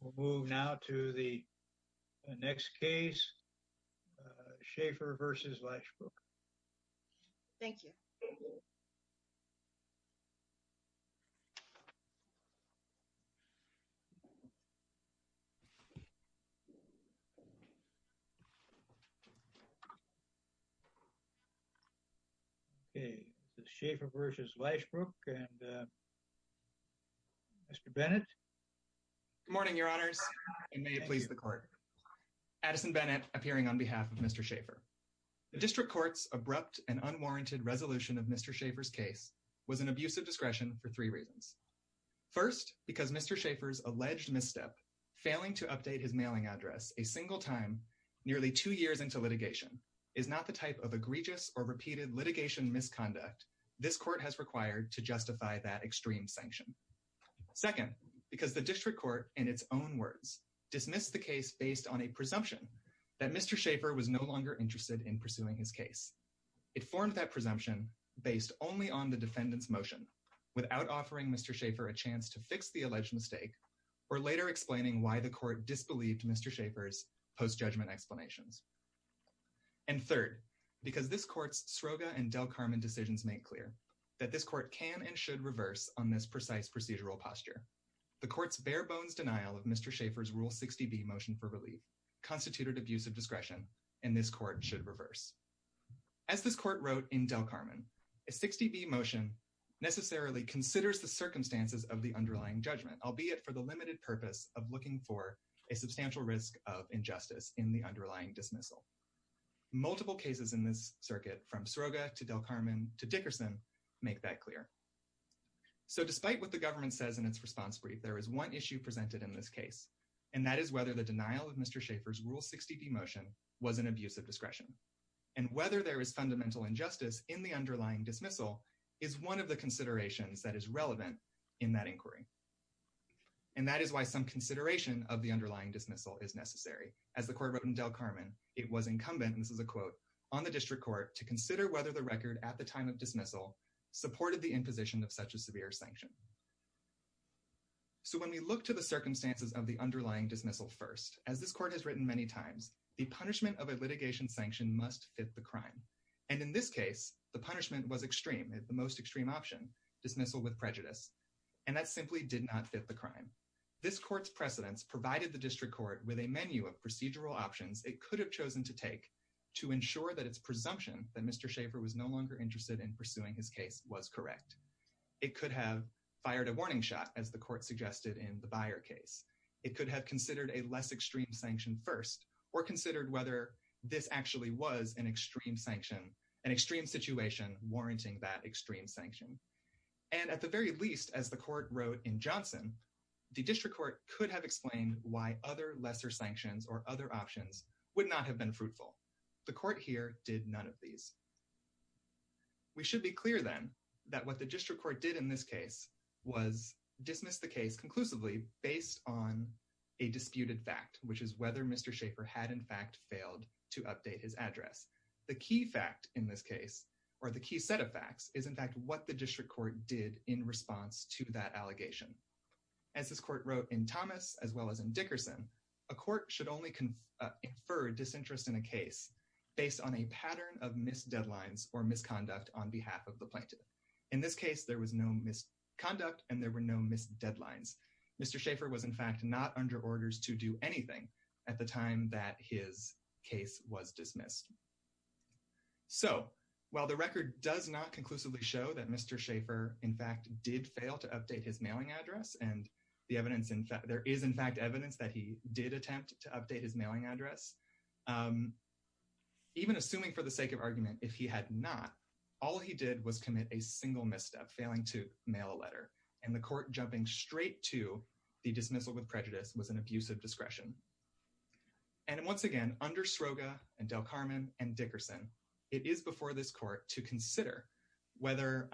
We'll move now to the next case, Shaffer v. Lashbrook. Thank you. Okay, Shaffer v. Lashbrook, and Mr. Bennett. Good morning, your honors, and may it please the court. Addison Bennett, appearing on behalf of Mr. Shaffer. The district court's abrupt and unwarranted resolution of Mr. Shaffer's case was an abuse of discretion for three reasons. First, because Mr. Shaffer's alleged misstep, failing to update his mailing address a single time nearly two years into litigation, is not the type of egregious or repeated litigation misconduct this court has required to justify that extreme sanction. Second, because the district court, in its own words, dismissed the case based on a presumption that Mr. Shaffer was no longer interested in pursuing his case. It formed that presumption based only on the defendant's motion, without offering Mr. Shaffer a chance to fix the alleged mistake, or later explaining why the court disbelieved Mr. Shaffer's post-judgment explanations. And third, because this court's Sroga and Del Carmen decisions make clear that this court can and should reverse on this precise procedural posture. The court's bare bones denial of Mr. Shaffer's Rule 60B motion for relief constituted abuse of discretion, and this court should reverse. As this court wrote in Del Carmen, a 60B motion necessarily considers the circumstances of the underlying judgment, albeit for the limited purpose of looking for a substantial risk of injustice in the underlying dismissal. Multiple cases in this circuit, from Sroga to Del Carmen to Dickerson, make that clear. So despite what the government says in its response brief, there is one issue presented in this case, and that is whether the denial of Mr. Shaffer's Rule 60B motion was an abuse of discretion. And whether there is fundamental injustice in the underlying dismissal is one of the considerations that is relevant in that inquiry. And that is why some consideration of the underlying dismissal is necessary. As the court wrote in Del Carmen, it was incumbent, and this is a quote, on the district court to consider whether the record at the time of dismissal supported the imposition of such a severe sanction. So when we look to the circumstances of the underlying dismissal first, as this court has written many times, the punishment of a litigation sanction must fit the crime. And in this case, the punishment was extreme, the most extreme option, dismissal with prejudice. And that simply did not fit the crime. This court's precedence provided the district court with a menu of procedural options it could have chosen to take to ensure that its presumption that Mr. Shaffer was no longer interested in pursuing his case was correct. It could have fired a warning shot, as the court suggested in the Byer case. It could have considered a less extreme sanction first, or considered whether this actually was an extreme sanction, an extreme situation warranting that extreme sanction. And at the very least, as the court wrote in Johnson, the district court could have explained why other lesser sanctions or other options would not have been fruitful. The court here did none of these. We should be clear, then, that what the district court did in this case was dismiss the case conclusively based on a disputed fact, which is whether Mr. Shaffer had in fact failed to update his address. The key fact in this case, or the key set of facts, is in fact what the district court did in response to that allegation. As this court wrote in Thomas, as well as in Dickerson, a court should only confer disinterest in a case based on a pattern of missed deadlines or misconduct on behalf of the plaintiff. In this case, there was no misconduct and there were no missed deadlines. Mr. Shaffer was in fact not under orders to do anything at the time that his case was dismissed. So, while the record does not conclusively show that Mr. Shaffer in fact did fail to update his mailing address, and there is in fact evidence that he did attempt to update his mailing address, even assuming for the sake of argument if he had not, all he did was commit a single misstep, failing to mail a letter. And the court jumping straight to the dismissal with prejudice was an abuse of discretion. And once again, under Sroga and Del Carmen and Dickerson, it is before this court to consider whether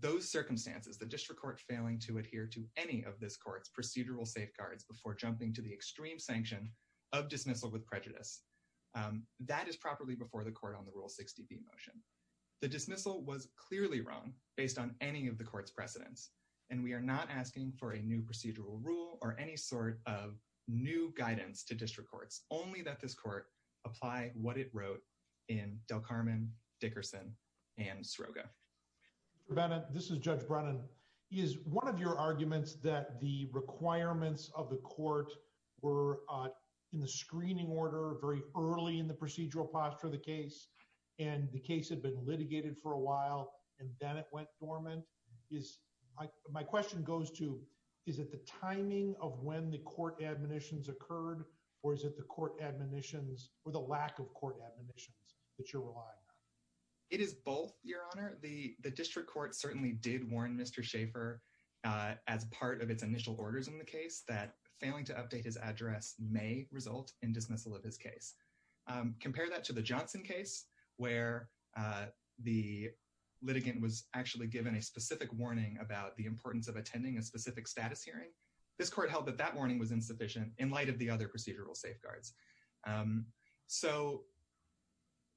those circumstances, the district court failing to adhere to any of this court's procedural safeguards before jumping to the extreme sanction of dismissal with prejudice, that is properly before the court on the Rule 60B motion. The dismissal was clearly wrong based on any of the court's precedents, and we are not asking for a new procedural rule or any sort of new guidance to district courts, only that this court apply what it wrote in Del Carmen, Dickerson, and Sroga. Mr. Bennett, this is Judge Brennan. Is one of your arguments that the requirements of the court were in the screening order very early in the procedural posture of the case and the case had been litigated for a while and then it went dormant? My question goes to, is it the timing of when the court admonitions occurred or is it the court admonitions or the lack of court admonitions that you're relying on? It is both, Your Honor. The district court certainly did warn Mr. Schaefer as part of its initial orders in the case that failing to update his address may result in dismissal of his case. Compare that to the Johnson case where the litigant was actually given a specific warning about the importance of attending a specific status hearing. This court held that that warning was insufficient in light of the other procedural safeguards. So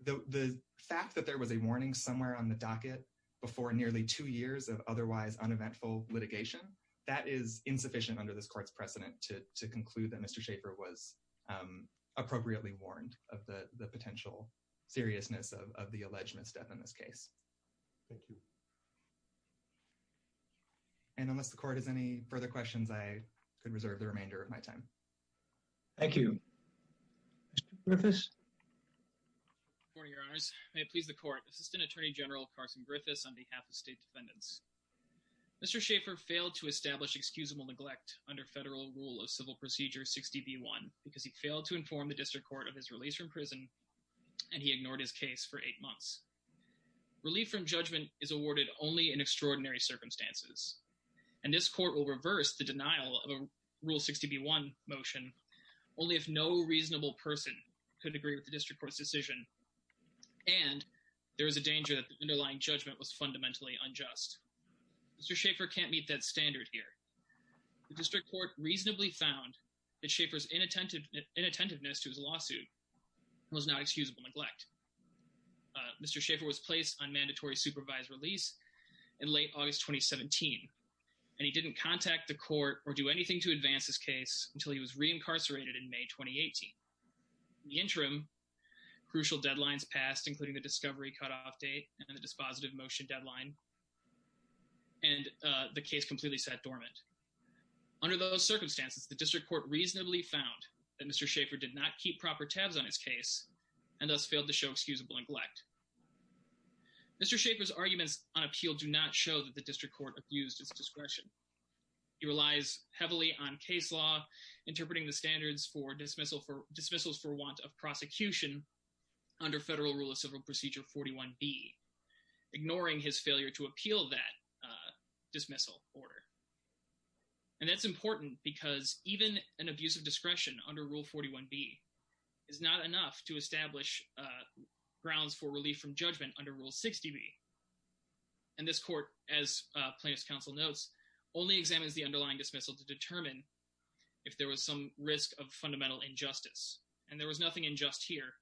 the fact that there was a warning somewhere on the docket before nearly two years of otherwise uneventful litigation, that is insufficient under this court's precedent to conclude that Mr. Schaefer was appropriately warned of the potential seriousness of the alleged misdeath in this case. Thank you. And unless the court has any further questions, I could reserve the remainder of my time. Thank you. Mr. Griffiths? Good morning, Your Honors. May it please the court. Assistant Attorney General Carson Griffiths on behalf of state defendants. Mr. Schaefer failed to establish excusable neglect under federal rule of civil procedure 60B1 because he failed to inform the district court of his release from prison, and he ignored his case for eight months. Relief from judgment is awarded only in extraordinary circumstances, and this court will reverse the denial of a Rule 60B1 motion only if no reasonable person could agree with the district court's decision and there is a danger that the underlying judgment was fundamentally unjust. Mr. Schaefer can't meet that standard here. The district court reasonably found that Schaefer's inattentiveness to his lawsuit was not excusable neglect. Mr. Schaefer was placed on mandatory supervised release in late August 2017, and he didn't contact the court or do anything to advance his case until he was reincarcerated in May 2018. In the interim, crucial deadlines passed, including the discovery cutoff date and the dispositive motion deadline, and the case completely sat dormant. Under those circumstances, the district court reasonably found that Mr. Schaefer did not keep proper tabs on his case and thus failed to show excusable neglect. Mr. Schaefer's arguments on appeal do not show that the district court abused his discretion. He relies heavily on case law, interpreting the standards for dismissals for want of prosecution under Federal Rule of Civil Procedure 41B, ignoring his failure to appeal that dismissal order. And that's important because even an abuse of discretion under Rule 41B is not enough to establish grounds for relief from judgment under Rule 60B. And this court, as plaintiff's counsel notes, only examines the underlying dismissal to determine if there was some risk of fundamental injustice. And there was nothing unjust here,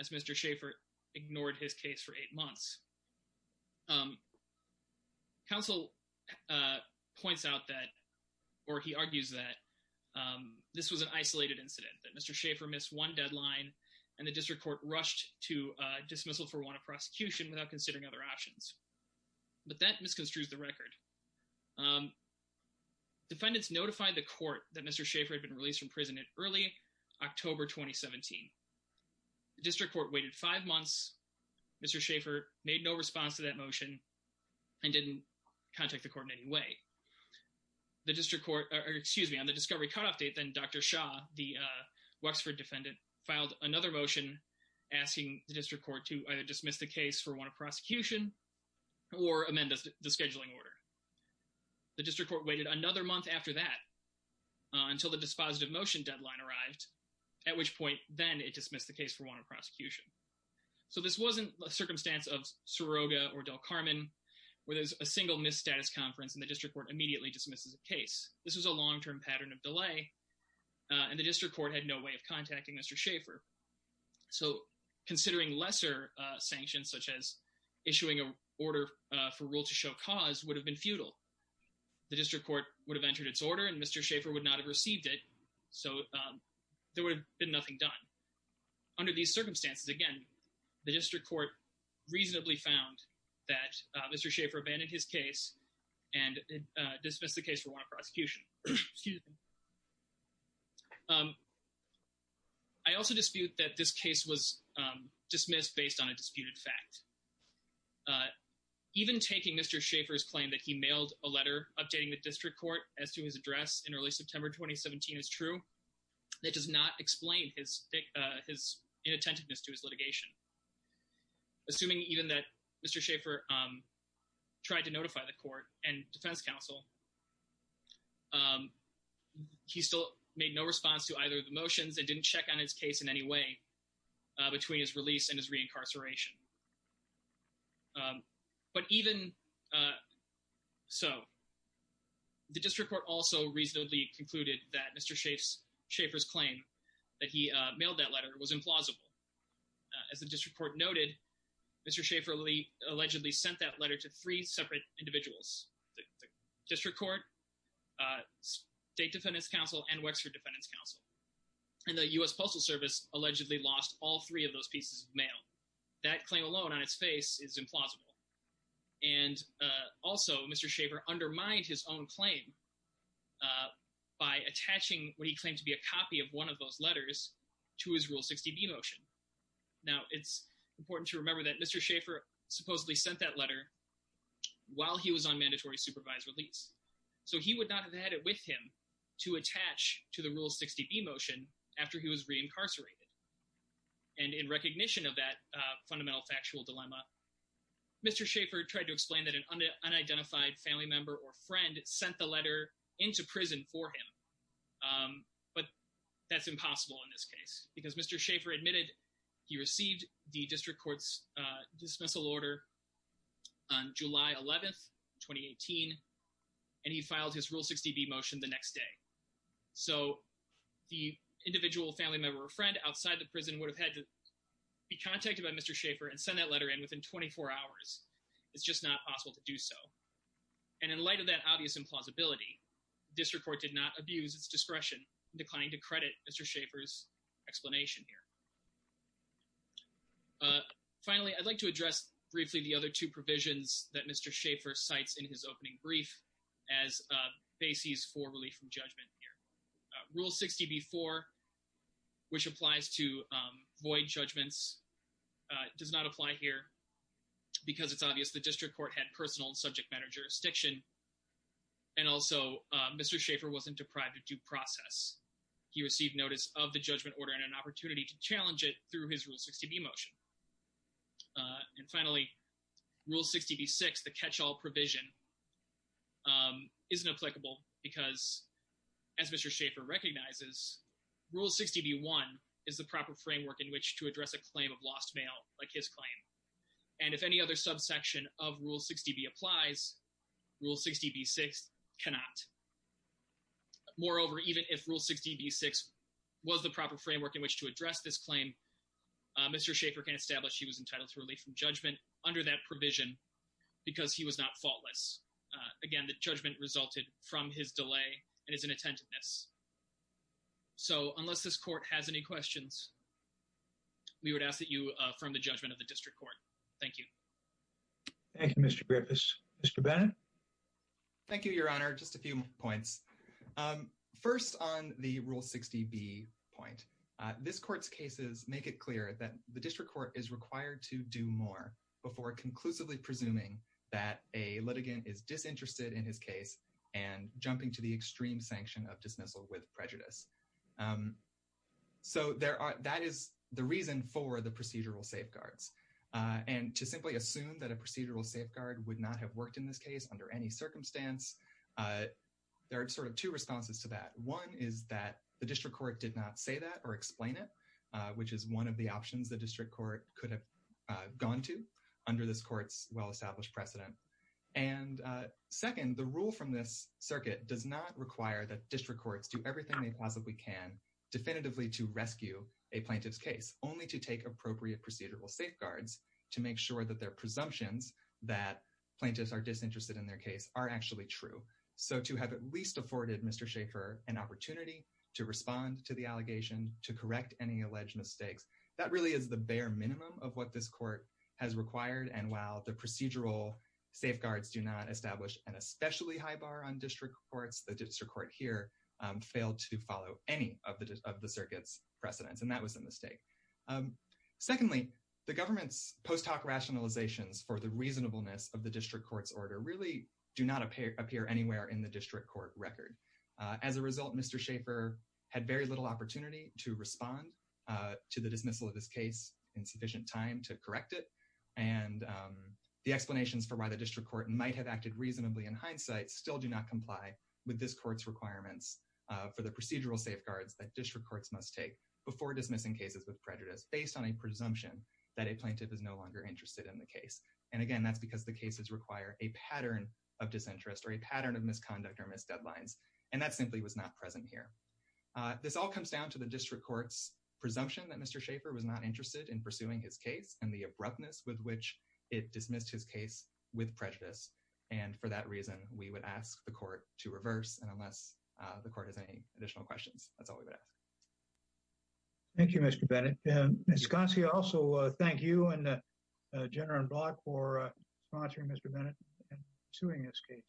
as Mr. Schaefer ignored his case for eight months. Counsel points out that, or he argues that, this was an isolated incident, that Mr. Schaefer missed one deadline and the district court rushed to dismissal for want of prosecution without considering other options. But that misconstrues the record. Defendants notified the court that Mr. Schaefer had been released from prison at early October 2017. The district court waited five months. Mr. Schaefer made no response to that motion and didn't contact the court in any way. The district court, or excuse me, on the discovery cutoff date then, Dr. Shah, the Wexford defendant, filed another motion asking the district court to either dismiss the case for want of prosecution or amend the scheduling order. The district court waited another month after that until the dispositive motion deadline arrived, at which point then it dismissed the case for want of prosecution. So this wasn't a circumstance of Soroga or Del Carmen where there's a single misstatus conference and the district court immediately dismisses a case. This was a long-term pattern of delay and the district court had no way of contacting Mr. Schaefer. So considering lesser sanctions such as issuing an order for rule to show cause would have been futile. The district court would have entered its order and Mr. Schaefer would not have received it, so there would have been nothing done. Under these circumstances, again, the district court reasonably found that Mr. Schaefer abandoned his case and dismissed the case for want of prosecution. I also dispute that this case was dismissed based on a disputed fact. Even taking Mr. Schaefer's claim that he mailed a letter updating the district court as to his address in early September 2017 is true, that does not explain his inattentiveness to his litigation. Assuming even that Mr. Schaefer tried to notify the court and defense counsel, he still made no response to either of the motions and didn't check on his case in any way between his release and his reincarceration. But even so, the district court also reasonably concluded that Mr. Schaefer's claim that he mailed that letter was implausible. As the district court noted, Mr. Schaefer allegedly sent that letter to three separate individuals. The district court, state defendant's counsel, and Wexford defendant's counsel. And the U.S. Postal Service allegedly lost all three of those pieces of mail. That claim alone on its face is implausible. And also, Mr. Schaefer undermined his own claim by attaching what he claimed to be a copy of one of those letters to his Rule 60B motion. Now, it's important to remember that Mr. Schaefer supposedly sent that letter while he was on mandatory supervised release. So he would not have had it with him to attach to the Rule 60B motion after he was reincarcerated. And in recognition of that fundamental factual dilemma, Mr. Schaefer tried to explain that an unidentified family member or friend sent the letter into prison for him. But that's impossible in this case. Because Mr. Schaefer admitted he received the district court's dismissal order on July 11th, 2018. And he filed his Rule 60B motion the next day. So the individual family member or friend outside the prison would have had to be contacted by Mr. Schaefer and send that letter in within 24 hours. It's just not possible to do so. And in light of that obvious implausibility, district court did not abuse its discretion in declining to credit Mr. Schaefer's explanation here. Finally, I'd like to address briefly the other two provisions that Mr. Schaefer cites in his opening brief as bases for relief from judgment here. Rule 60B-4, which applies to void judgments, does not apply here. Because it's obvious the district court had personal and subject matter jurisdiction. And also, Mr. Schaefer wasn't deprived of due process. He received notice of the judgment order and an opportunity to challenge it through his Rule 60B motion. And finally, Rule 60B-6, the catch-all provision, isn't applicable because, as Mr. Schaefer recognizes, Rule 60B-1 is the proper framework in which to address a claim of lost mail, like his claim. And if any other subsection of Rule 60B applies, Rule 60B-6 cannot. Moreover, even if Rule 60B-6 was the proper framework in which to address this claim, Mr. Schaefer can establish he was entitled to relief from judgment under that provision because he was not faultless. Again, the judgment resulted from his delay and his inattentiveness. So, unless this court has any questions, we would ask that you affirm the judgment of the district court. Thank you. Thank you, Mr. Griffiths. Mr. Bennett? Thank you, Your Honor. Just a few more points. First, on the Rule 60B point, this court's cases make it clear that the district court is required to do more before conclusively presuming that a litigant is disinterested in his case and jumping to the extreme sanction of dismissal with prejudice. So, that is the reason for the procedural safeguards. And to simply assume that a procedural safeguard would not have worked in this case under any circumstance, there are sort of two responses to that. One is that the district court did not say that or explain it, which is one of the options the district court could have gone to under this court's well-established precedent. And second, the rule from this circuit does not require that district courts do everything they possibly can definitively to rescue a plaintiff's case, only to take appropriate procedural safeguards to make sure that their presumptions that plaintiffs are disinterested in their case are actually true. So, to have at least afforded Mr. Schaeffer an opportunity to respond to the allegation, to correct any alleged mistakes, that really is the bare minimum of what this court has required. And while the procedural safeguards do not establish an especially high bar on district courts, the district court here failed to follow any of the circuit's precedents, and that was a mistake. Secondly, the government's post hoc rationalizations for the reasonableness of the district court's order really do not appear anywhere in the district court record. As a result, Mr. Schaeffer had very little opportunity to respond to the dismissal of his case in sufficient time to correct it, and the explanations for why the district court might have acted reasonably in hindsight still do not comply with this court's requirements for the procedural safeguards that district courts must take before dismissing cases with prejudice, based on a presumption that a plaintiff is no longer interested in the case. And again, that's because the cases require a pattern of disinterest or a pattern of misconduct or missed deadlines, and that simply was not present here. This all comes down to the district court's presumption that Mr. Schaeffer was not interested in pursuing his case and the abruptness with which it dismissed his case with prejudice, and for that reason, we would ask the court to reverse, and unless the court has any additional questions, that's all we would ask. Thank you, Mr. Bennett. Ms. Gonsi, I also thank you and Jenner and Block for sponsoring Mr. Bennett and pursuing his case.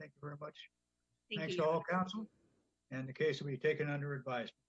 Thank you very much. Thanks to all counsel, and the case will be taken under advisory.